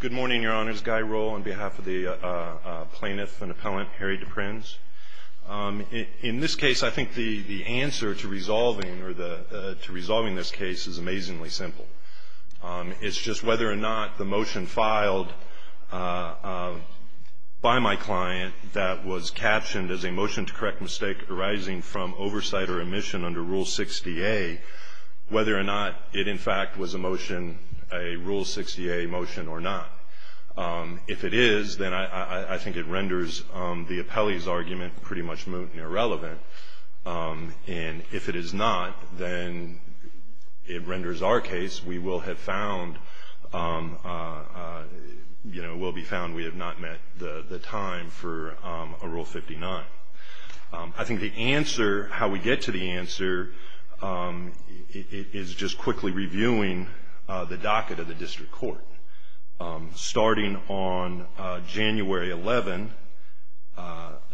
Good morning, Your Honors. Guy Rohl on behalf of the plaintiff and appellant Harry DePrins. In this case, I think the answer to resolving this case is amazingly simple. It's just whether or not the motion filed by my client that was captioned as a motion to correct mistake arising from oversight or omission under Rule 60A, whether or not it in fact was a motion, a Rule 60A motion or not. If it is, then I think it renders the appellee's argument pretty much irrelevant. And if it is not, then it renders our case. We will have found, you know, will be found we have not met the time for a Rule 59. I think the answer, how we get to the answer is just quickly reviewing the docket of the district court. Starting on January 11,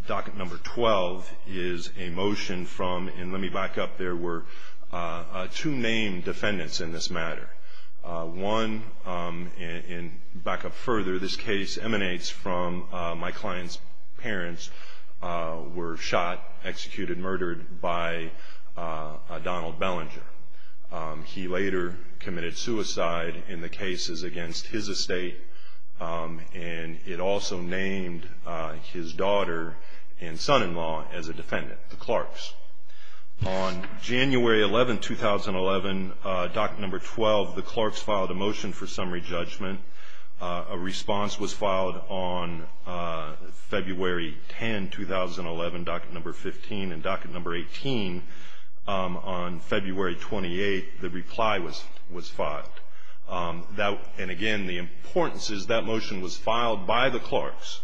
docket number 12 is a motion from, and let me back up, there were two named defendants in this matter. One, and back up further, this case emanates from my client's parents were shot, executed, murdered by Donald Bellinger. He later committed suicide in the cases against his estate, and it also named his daughter and son-in-law as a defendant, the Clarks. On January 11, 2011, docket number 12, the Clarks filed a motion for summary judgment. A response was filed on February 10, 2011, docket number 15, and docket number 18 on February 28, the reply was filed. And again, the importance is that motion was filed by the Clarks.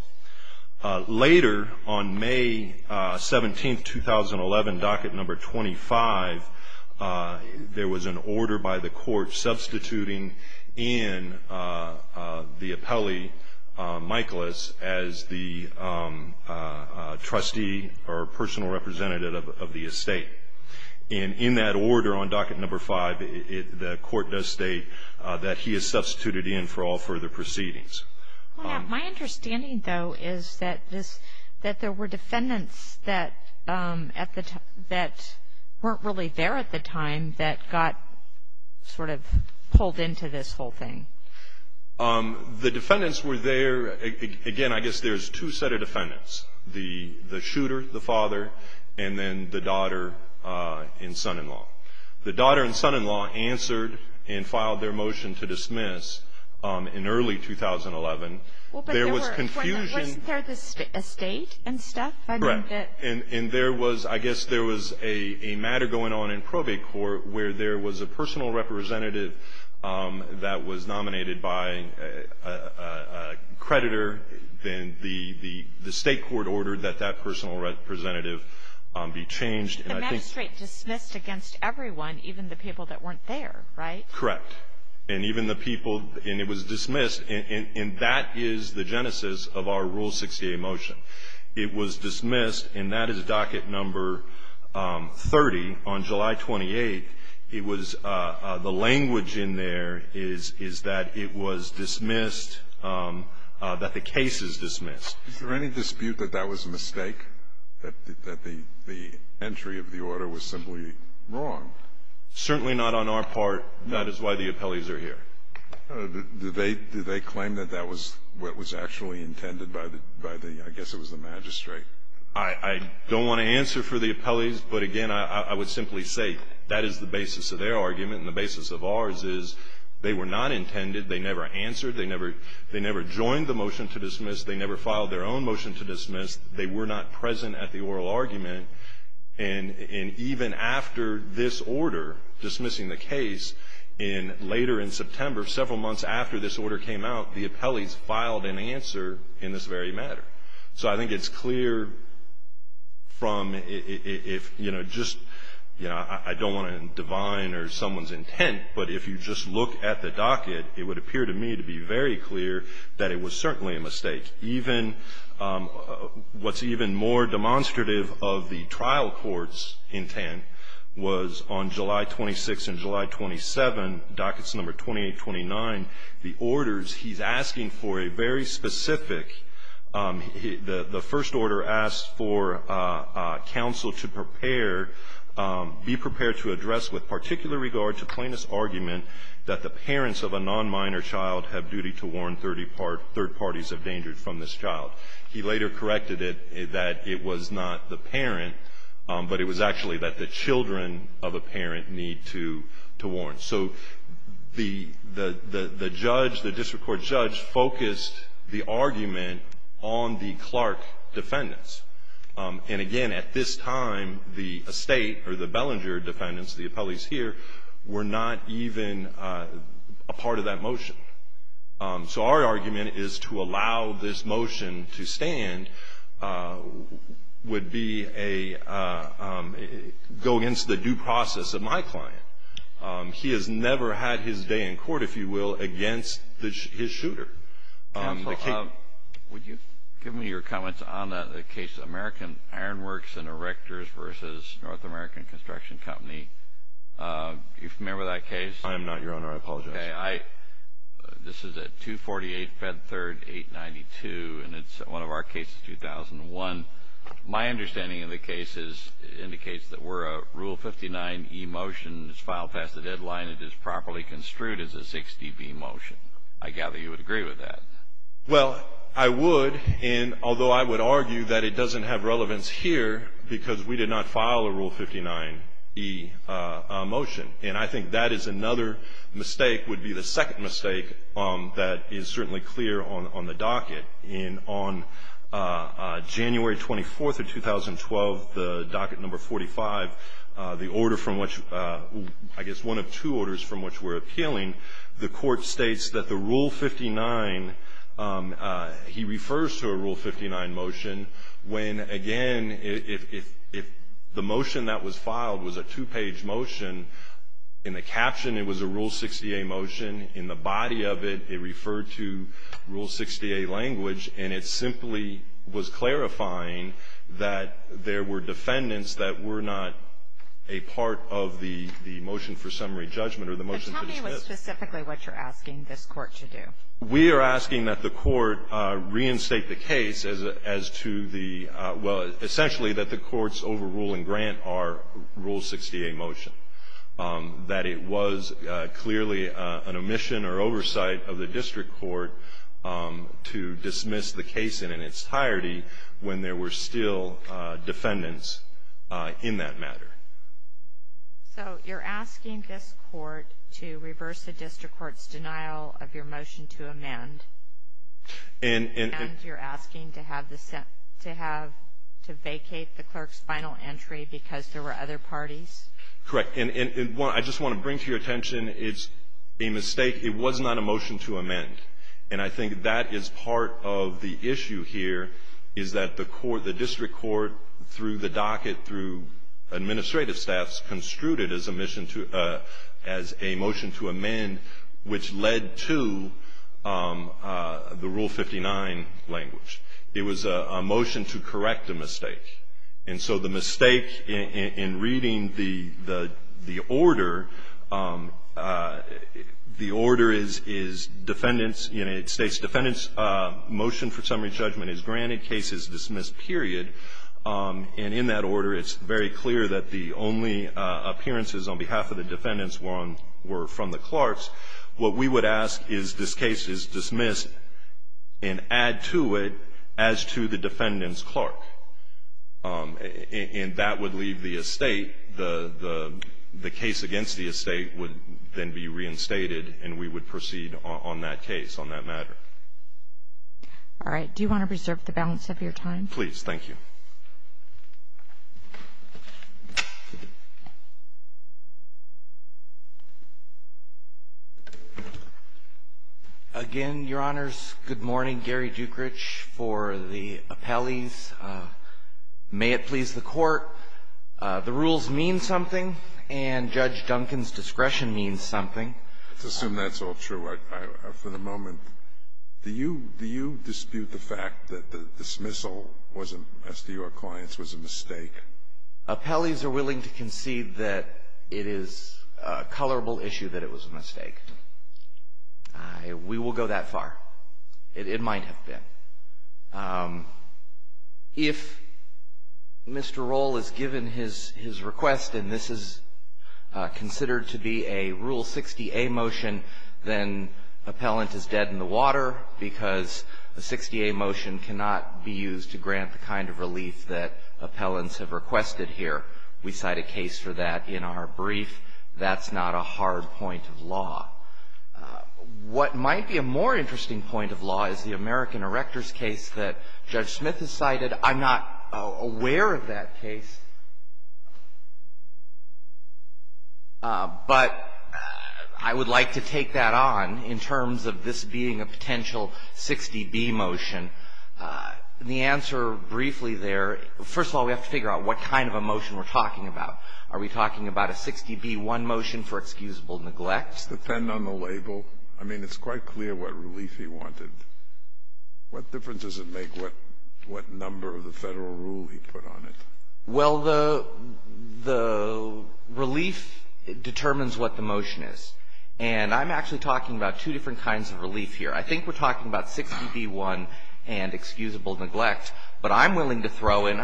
Later, on May 17, 2011, docket number 25, there was an order by the court substituting in the appellee, Michaelis, as the trustee or personal representative of the estate. And in that order on docket number 5, the court does state that he is substituted in for all further proceedings. My understanding, though, is that there were defendants that weren't really there at the time that got sort of pulled into this whole thing. The defendants were there. Again, I guess there's two set of defendants, the shooter, the father, and then the daughter and son-in-law. The daughter and son-in-law answered and filed their motion to dismiss in early 2011. There was confusion. Wasn't there a state and stuff? Correct. And there was, I guess there was a matter going on in probate court where there was a personal representative that was nominated by a creditor, and the state court ordered that that personal representative be changed. The magistrate dismissed against everyone, even the people that weren't there, right? Correct. And even the people, and it was dismissed, and that is the genesis of our Rule 68 motion. It was dismissed, and that is docket number 30 on July 28. It was, the language in there is that it was dismissed, that the case is dismissed. Is there any dispute that that was a mistake, that the entry of the order was simply wrong? Certainly not on our part. That is why the appellees are here. Do they claim that that was what was actually intended by the, I guess it was the magistrate? I don't want to answer for the appellees, but again, I would simply say that is the basis of their argument, and the basis of ours is they were not intended. They never answered. They never joined the motion to dismiss. They never filed their own motion to dismiss. They were not present at the oral argument, and even after this order dismissing the case, and later in September, several months after this order came out, the appellees filed an answer in this very matter. So I think it's clear from if, you know, just, you know, I don't want to divine or someone's intent, but if you just look at the docket, it would appear to me to be very clear that it was certainly a mistake. Even what's even more demonstrative of the trial court's intent was on July 26th and July 27th, dockets number 2829, the orders, he's asking for a very specific, the first order asks for counsel to prepare, be prepared to address with particular regard to plaintiff's argument that the parents of a non-minor child have duty to warn third parties of danger from this child. He later corrected it that it was not the parent, but it was actually that the children of a parent need to warn. So the judge, the district court judge, focused the argument on the Clark defendants, and again, at this time, the estate or the Bellinger defendants, the appellees here, were not even a part of that motion. So our argument is to allow this motion to stand would be a, go against the due process of my client. He has never had his day in court, if you will, against his shooter. Counsel, would you give me your comments on the case of American Iron Works and Erectors versus North American Construction Company? Are you familiar with that case? I am not, Your Honor. I apologize. Okay. This is at 248 Fed Third 892, and it's one of our cases, 2001. My understanding of the case is it indicates that we're a Rule 59e motion. It's filed past the deadline. It is properly construed as a 6db motion. I gather you would agree with that. Well, I would, and although I would argue that it doesn't have relevance here because we did not file a Rule 59e motion, and I think that is another mistake, would be the second mistake that is certainly clear on the docket. And on January 24th of 2012, the docket number 45, the order from which, I guess one of two orders from which we're appealing, the Court states that the Rule 59, he refers to a Rule 59 motion when, again, if the motion that was filed was a two-page motion, in the caption it was a Rule 60a motion. In the body of it, it referred to Rule 60a language, and it simply was clarifying that there were defendants that were not a part of the motion for summary judgment or the motion for the trip. Is that specifically what you're asking this Court to do? We are asking that the Court reinstate the case as to the, well, essentially that the Court's overruling grant our Rule 60a motion, that it was clearly an omission or oversight of the district court to dismiss the case in its entirety when there were still defendants in that matter. So you're asking this Court to reverse the district court's denial of your motion to amend, and you're asking to vacate the clerk's final entry because there were other parties? Correct. And I just want to bring to your attention, it's a mistake. It was not a motion to amend, and I think that is part of the issue here, is that the court, the district court, through the docket, through administrative staffs, construed it as a motion to amend, which led to the Rule 59 language. It was a motion to correct a mistake. And so the mistake in reading the order, the order is defendants, motion for summary judgment is granted, case is dismissed, period. And in that order, it's very clear that the only appearances on behalf of the defendants were on, were from the clerks. What we would ask is this case is dismissed and add to it as to the defendant's clerk. And that would leave the estate, the case against the estate would then be reinstated, and we would proceed on that case, on that matter. All right. Do you want to preserve the balance of your time? Please. Thank you. Again, Your Honors, good morning. Gary Dukrich for the appellees. May it please the Court, the rules mean something, and Judge Duncan's discretion means something. Let's assume that's all true. For the moment, do you dispute the fact that the dismissal wasn't, as to your clients, was a mistake? Appellees are willing to concede that it is a colorable issue that it was a mistake. We will go that far. It might have been. If Mr. Rohl has given his request, and this is considered to be a Rule 60A motion, then appellant is dead in the water because the 60A motion cannot be used to grant the kind of relief that appellants have requested here. We cite a case for that in our brief. That's not a hard point of law. What might be a more interesting point of law is the American Erectors case that Judge Smith has cited. I'm not aware of that case, but I would like to take that on in terms of this being a potential 60B motion. The answer briefly there, first of all, we have to figure out what kind of a motion we're talking about. Are we talking about a 60B-1 motion for excusable neglect? Does that depend on the label? I mean, it's quite clear what relief he wanted. What difference does it make what number of the federal rule he put on it? Well, the relief determines what the motion is. And I'm actually talking about two different kinds of relief here. I think we're talking about 60B-1 and excusable neglect, but I'm willing to throw in,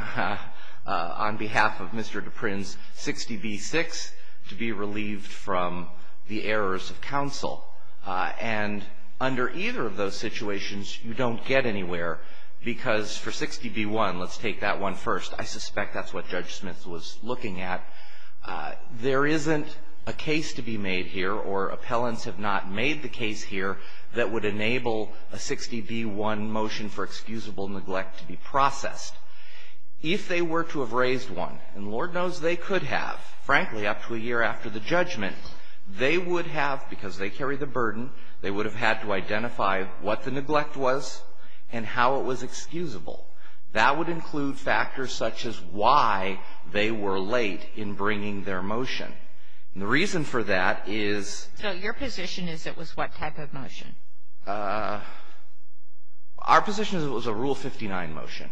on behalf of Mr. Duprin's 60B-6, to be relieved from the errors of counsel. And under either of those situations, you don't get anywhere, because for 60B-1, let's take that one first. I suspect that's what Judge Smith was looking at. There isn't a case to be made here, or appellants have not made the case here, that would enable a 60B-1 motion for excusable neglect to be processed. If they were to have raised one, and Lord knows they could have, frankly, up to a year after the judgment, they would have, because they carry the burden, they would have had to identify what the neglect was and how it was excusable. That would include factors such as why they were late in bringing their motion. And the reason for that is... So your position is it was what type of motion? Our position is it was a Rule 59 motion,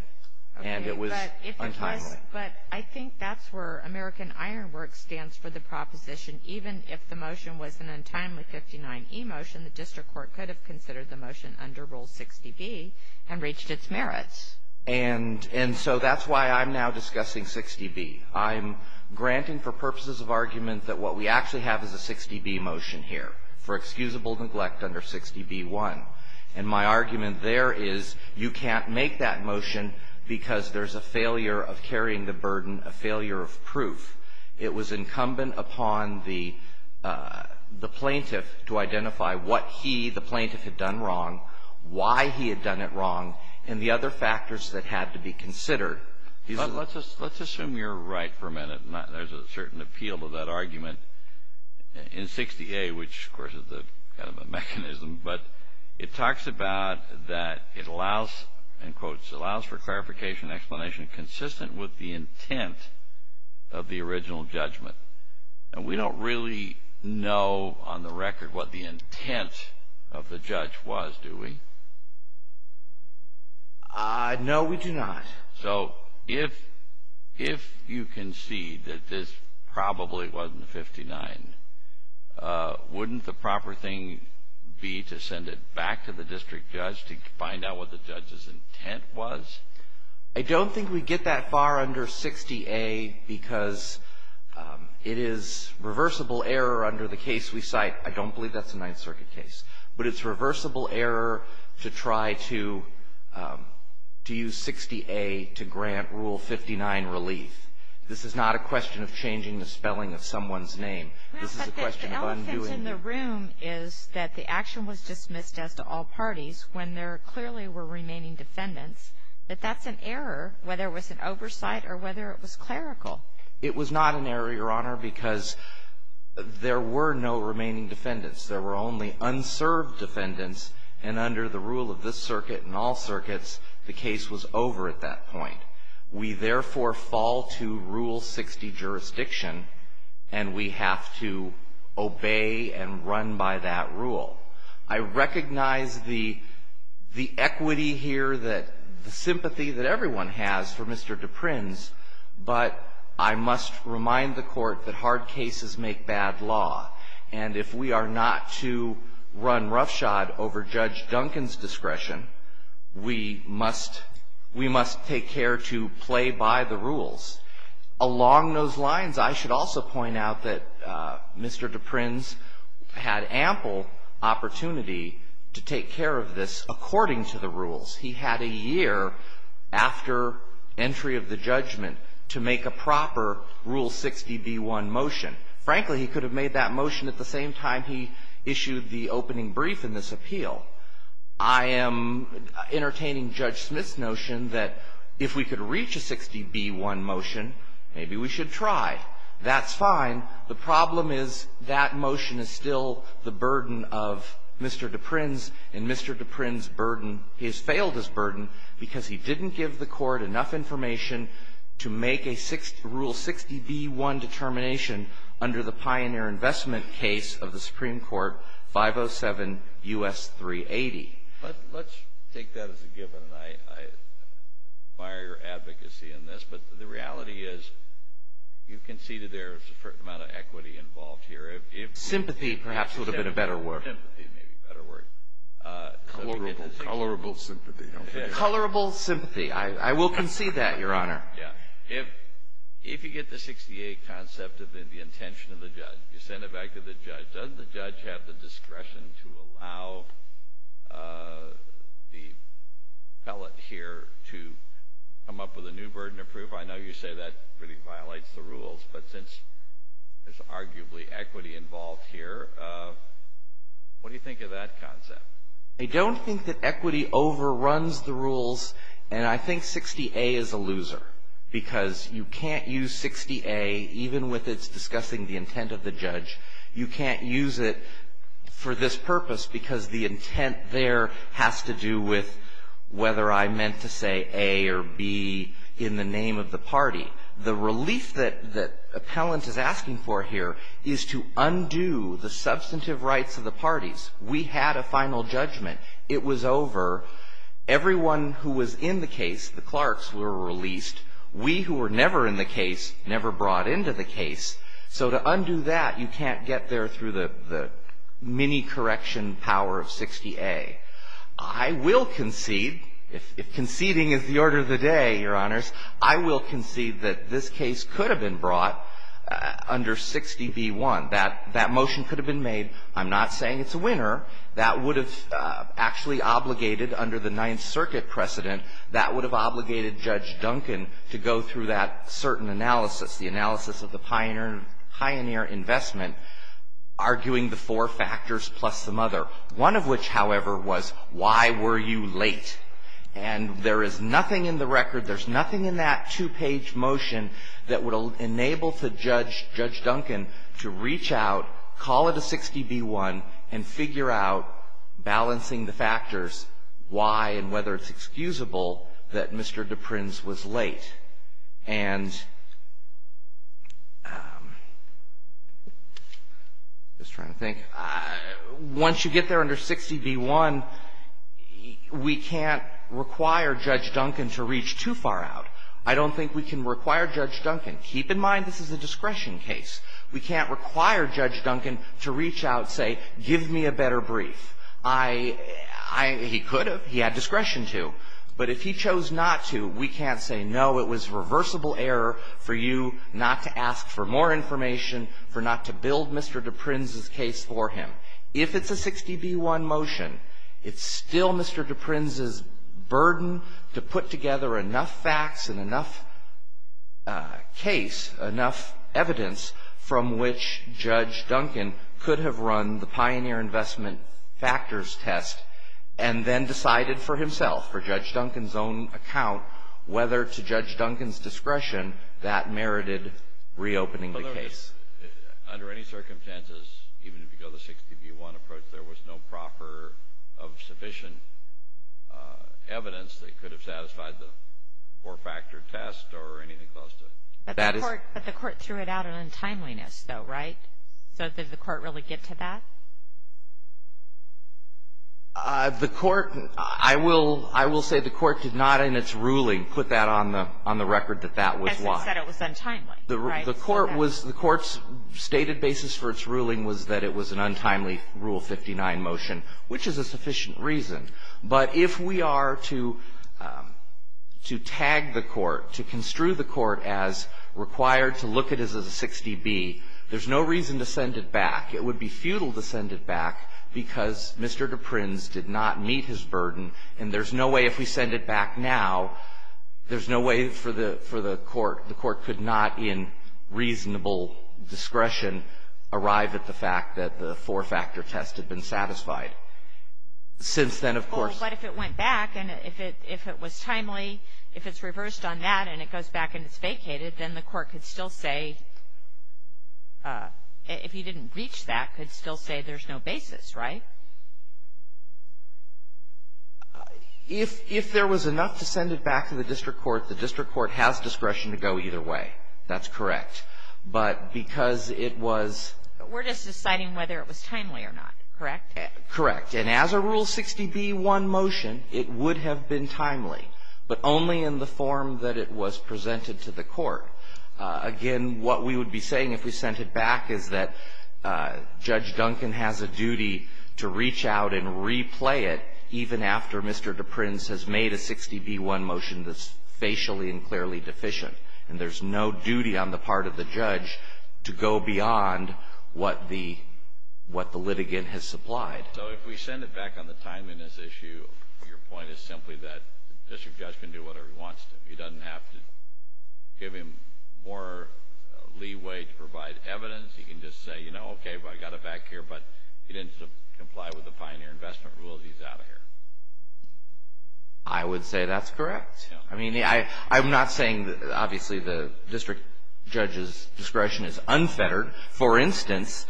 and it was untimely. But I think that's where American Ironworks stands for the proposition. Even if the motion was an untimely 59E motion, the district court could have considered the motion under Rule 60B and reached its merits. And so that's why I'm now discussing 60B. I'm granting for purposes of argument that what we actually have is a 60B motion here for excusable neglect under 60B-1. And my argument there is you can't make that motion because there's a failure of carrying the burden, a failure of proof. It was incumbent upon the plaintiff to identify what he, the plaintiff, had done wrong, why he had done it wrong, and the other factors that had to be considered. Let's assume you're right for a minute. There's a certain appeal to that argument in 60A, which, of course, is kind of a mechanism. But it talks about that it allows, in quotes, allows for clarification and explanation consistent with the intent of the original judgment. And we don't really know on the record what the intent of the judge was, do we? No, we do not. So if you concede that this probably wasn't 59, wouldn't the proper thing be to send it back to the district judge to find out what the judge's intent was? I don't think we'd get that far under 60A because it is reversible error under the case we cite. I don't believe that's a Ninth Circuit case. But it's reversible error to try to use 60A to grant Rule 59 relief. This is not a question of changing the spelling of someone's name. This is a question of undoing it. Well, but the elephant in the room is that the action was dismissed as to all parties when there clearly were remaining defendants, but that's an error, whether it was an oversight or whether it was clerical. It was not an error, Your Honor, because there were no remaining defendants. There were only unserved defendants, and under the rule of this circuit and all circuits, the case was over at that point. We therefore fall to Rule 60 jurisdiction, and we have to obey and run by that rule. I recognize the equity here, the sympathy that everyone has for Mr. Duprin's, but I must remind the Court that hard cases make bad law. And if we are not to run roughshod over Judge Duncan's discretion, we must take care to play by the rules. Along those lines, I should also point out that Mr. Duprin's had ample opportunity to take care of this according to the rules. He had a year after entry of the judgment to make a proper Rule 60b1 motion. Frankly, he could have made that motion at the same time he issued the opening brief in this appeal. I am entertaining Judge Smith's notion that if we could reach a 60b1 motion, maybe we should try. That's fine. The problem is that motion is still the burden of Mr. Duprin's, and Mr. Duprin's burden has failed as burden because he didn't give the Court enough information to make a Rule 60b1 determination under the pioneer investment case of the Supreme Court, 507 U.S. 380. Let's take that as a given. I admire your advocacy on this, but the reality is you conceded there is a certain amount of equity involved here. Sympathy perhaps would have been a better word. Sympathy may be a better word. Colorable sympathy. Colorable sympathy. I will concede that, Your Honor. Yeah. If you get the 68 concept of the intention of the judge, you send it back to the judge, doesn't the judge have the discretion to allow the appellate here to come up with a new burden of proof? I know you say that really violates the rules, but since there's arguably equity involved here, what do you think of that concept? I don't think that equity overruns the rules, and I think 60a is a loser because you can't use 60a even with its discussing the intent of the judge. You can't use it for this purpose because the intent there has to do with whether I meant to say a or b in the name of the party. The relief that appellant is asking for here is to undo the substantive rights of the parties. We had a final judgment. It was over. Everyone who was in the case, the clerks, were released. We who were never in the case, never brought into the case. So to undo that, you can't get there through the mini-correction power of 60a. I will concede, if conceding is the order of the day, Your Honors, I will concede that this case could have been brought under 60b1. That motion could have been made. I'm not saying it's a winner. That would have actually obligated under the Ninth Circuit precedent, that would have obligated Judge Duncan to go through that certain analysis, the analysis of the pioneer investment, arguing the four factors plus some other. One of which, however, was why were you late? And there is nothing in the record, there's nothing in that two-page motion that would enable Judge Duncan to reach out, call it a 60b1, and figure out, balancing the factors, why and whether it's excusable that Mr. DePrins was late. And I'm just trying to think. Once you get there under 60b1, we can't require Judge Duncan to reach too far out. I don't think we can require Judge Duncan, keep in mind this is a discretion case, we can't require Judge Duncan to reach out and say, give me a better brief. He could have, he had discretion to, but if he chose not to, we can't say, no, it was reversible error for you not to ask for more information, for not to build Mr. DePrins's case for him. If it's a 60b1 motion, it's still Mr. DePrins's burden to put together enough facts and enough case, enough evidence from which Judge Duncan could have run the Pioneer Investment Factors test and then decided for himself, for Judge Duncan's own account, whether to Judge Duncan's discretion that merited reopening the case. Under any circumstances, even if you go the 60b1 approach, there was no proper measure of sufficient evidence that could have satisfied the four-factor test or anything close to it. But the court threw it out in untimeliness though, right? So did the court really get to that? The court, I will say the court did not in its ruling put that on the record that that was why. Because it said it was untimely, right? The court's stated basis for its ruling was that it was an untimely Rule 59 motion, which is a sufficient reason. But if we are to tag the court, to construe the court as required to look at this as a 60b, there's no reason to send it back. It would be futile to send it back because Mr. DePrins did not meet his burden. And there's no way if we send it back now, there's no way for the court, the court could not in reasonable discretion arrive at the fact that the four-factor test had been satisfied. Since then, of course. But if it went back and if it was timely, if it's reversed on that and it goes back and it's vacated, then the court could still say, if you didn't reach that, could still say there's no basis, right? If there was enough to send it back to the district court, the district court has discretion to go either way. That's correct. But because it was. But we're just deciding whether it was timely or not, correct? Correct. And as a Rule 60b-1 motion, it would have been timely, but only in the form that it was presented to the court. Again, what we would be saying if we sent it back is that Judge Duncan has a duty to reach out and replay it even after Mr. DePrins has made a 60b-1 motion that's facially and clearly deficient. And there's no duty on the part of the judge to go beyond what the litigant has supplied. So if we send it back on the timeliness issue, your point is simply that the district judge can do whatever he wants to. He doesn't have to give him more leeway to provide evidence. He can just say, you know, okay, I got it back here, but he didn't comply with the pioneer investment rules. He's out of here. I would say that's correct. I mean, I'm not saying that obviously the district judge's discretion is unfettered. For instance,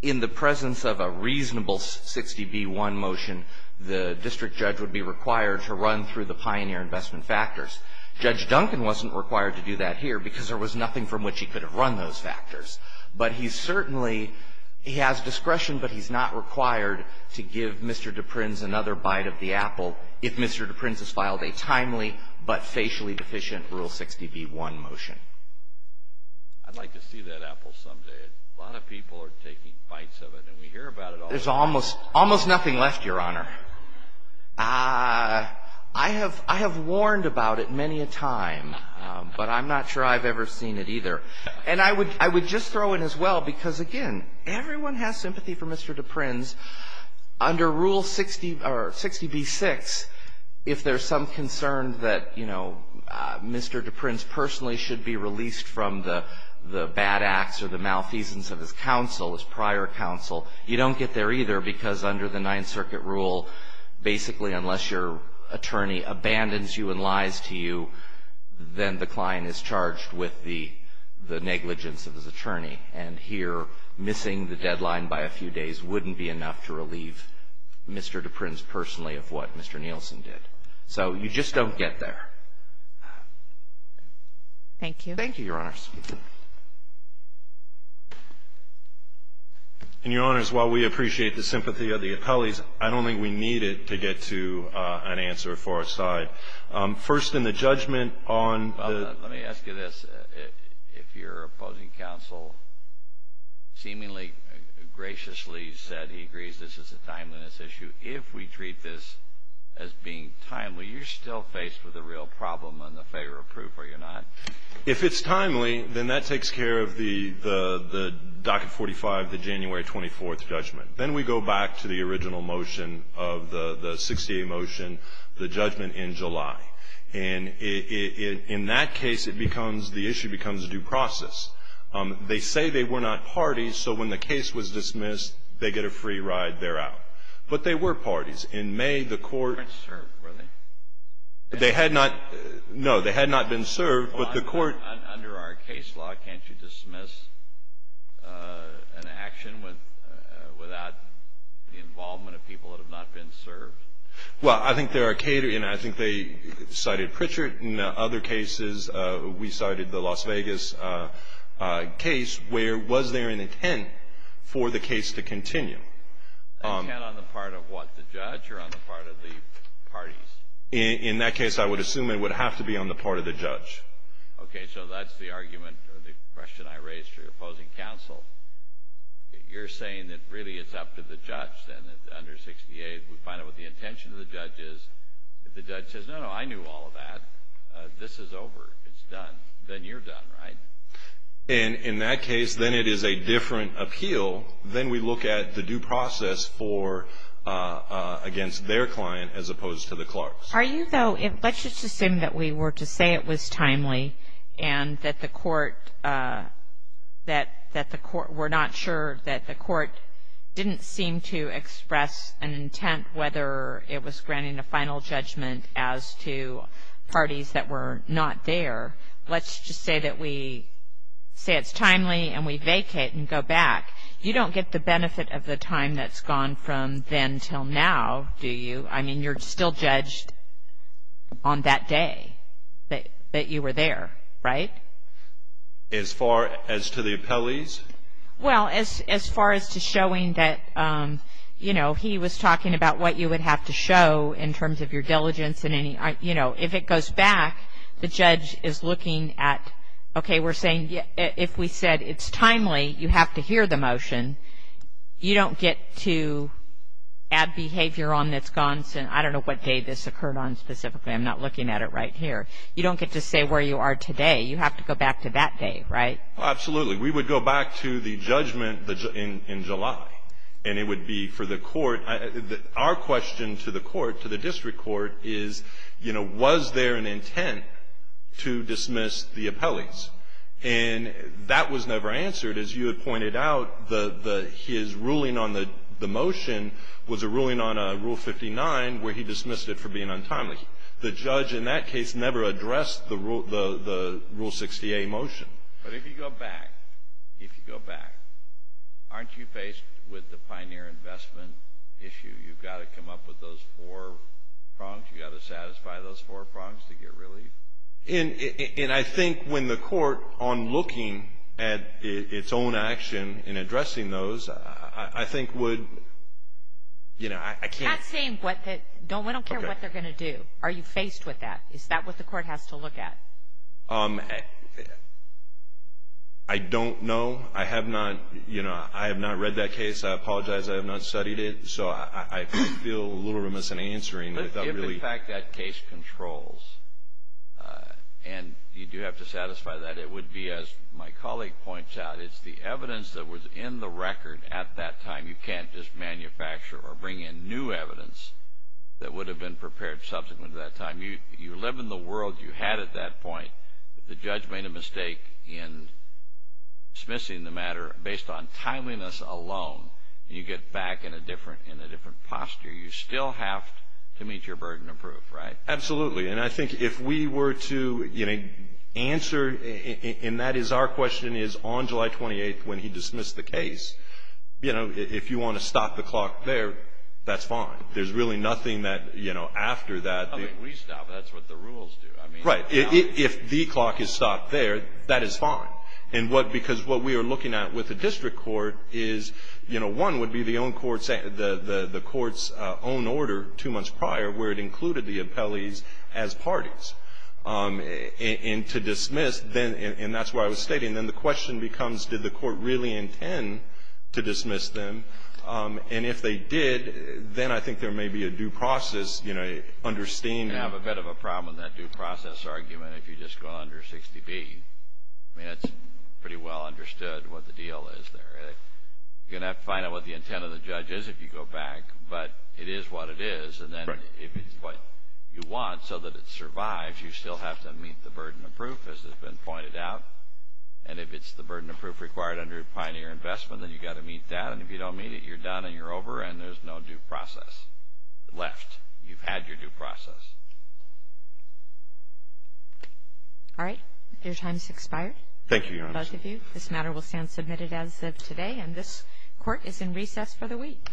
in the presence of a reasonable 60b-1 motion, the district judge would be required to run through the pioneer investment factors. Judge Duncan wasn't required to do that here because there was nothing from which he could have run those factors. But he's certainly he has discretion, but he's not required to give Mr. DePrins another bite of the apple if Mr. DePrins has filed a timely but facially deficient Rule 60b-1 motion. I'd like to see that apple someday. A lot of people are taking bites of it, and we hear about it all the time. There's almost nothing left, Your Honor. I have warned about it many a time, but I'm not sure I've ever seen it either. And I would just throw in as well, because, again, everyone has sympathy for Mr. DePrins, under Rule 60b-6, if there's some concern that, you know, Mr. DePrins personally should be released from the bad acts or the malfeasance of his counsel, his prior counsel, you don't get there either because under the Ninth Circuit rule, basically unless your attorney abandons you and lies to you, then the client is charged with the negligence of his attorney. And here, missing the deadline by a few days wouldn't be enough to relieve Mr. DePrins personally of what Mr. Nielsen did. So you just don't get there. Thank you. Thank you, Your Honors. And, Your Honors, while we appreciate the sympathy of the appellees, I don't think we need it to get to an answer for our side. First, in the judgment on the —— seemingly graciously said he agrees this is a timeliness issue. If we treat this as being timely, you're still faced with a real problem on the favor of proof, are you not? If it's timely, then that takes care of the Docket 45, the January 24th judgment. Then we go back to the original motion of the 68 motion, the judgment in July. And in that case, it becomes — the issue becomes a due process. They say they were not parties, so when the case was dismissed, they get a free ride, they're out. But they were parties. In May, the court — They weren't served, were they? They had not — no, they had not been served, but the court — Under our case law, can't you dismiss an action without the involvement of people that have not been served? Well, I think there are — and I think they cited Pritchard. In other cases, we cited the Las Vegas case, where was there an intent for the case to continue? An intent on the part of what, the judge or on the part of the parties? In that case, I would assume it would have to be on the part of the judge. Okay, so that's the argument or the question I raised to your opposing counsel. You're saying that really it's up to the judge, then, under 68. We find out what the intention of the judge is. The judge says, no, no, I knew all of that. This is over. It's done. Then you're done, right? And in that case, then it is a different appeal. Then we look at the due process for — against their client as opposed to the clerk's. Are you, though — let's just assume that we were to say it was timely and that the court — that the court — we're not sure that the court didn't seem to express an intent, whether it was granting a final judgment as to parties that were not there. Let's just say that we say it's timely and we vacate and go back. You don't get the benefit of the time that's gone from then until now, do you? I mean, you're still judged on that day that you were there, right? As far as to the appellees? Well, as far as to showing that, you know, he was talking about what you would have to show in terms of your diligence and any — you know, if it goes back, the judge is looking at, okay, we're saying if we said it's timely, you have to hear the motion. You don't get to add behavior on that's gone — I don't know what day this occurred on specifically. I'm not looking at it right here. You don't get to say where you are today. You have to go back to that day, right? Absolutely. We would go back to the judgment in July. And it would be for the court — our question to the court, to the district court, is, you know, was there an intent to dismiss the appellees? And that was never answered. As you had pointed out, his ruling on the motion was a ruling on Rule 59 where he dismissed it for being untimely. The judge in that case never addressed the Rule 60A motion. But if you go back, if you go back, aren't you faced with the pioneer investment issue? You've got to come up with those four prongs. You've got to satisfy those four prongs to get relief. And I think when the court, on looking at its own action in addressing those, I think would — you know, I can't — That's saying what the — I don't care what they're going to do. Are you faced with that? Is that what the court has to look at? I don't know. I have not — you know, I have not read that case. I apologize. I have not studied it. So I feel a little remiss in answering without really — If, in fact, that case controls, and you do have to satisfy that, it would be, as my colleague points out, it's the evidence that was in the record at that time. You can't just manufacture or bring in new evidence that would have been prepared subsequent to that time. You live in the world you had at that point. The judge made a mistake in dismissing the matter based on timeliness alone. You get back in a different posture. You still have to meet your burden of proof, right? Absolutely. And I think if we were to, you know, answer — and that is our question is, on July 28th, when he dismissed the case, you know, if you want to stop the clock there, that's fine. There's really nothing that, you know, after that — We stop. That's what the rules do. I mean — Right. If the clock is stopped there, that is fine. And what — because what we are looking at with the district court is, you know, one would be the own court's — the court's own order two months prior where it included the appellees as parties. And to dismiss, then — and that's what I was stating. Then the question becomes, did the court really intend to dismiss them? And if they did, then I think there may be a due process, you know, understanding — You can have a bit of a problem with that due process argument if you just go under 60B. I mean, it's pretty well understood what the deal is there. You're going to have to find out what the intent of the judge is if you go back. But it is what it is. Right. And then if it's what you want so that it survives, you still have to meet the burden of proof, as has been pointed out. And if it's the burden of proof required under a pioneer investment, then you've got to meet that. And if you don't meet it, you're done and you're over and there's no due process left. You've had your due process. All right. Your time has expired. Thank you, Your Honor. For both of you. This matter will stand submitted as of today. And this court is in recess for the week.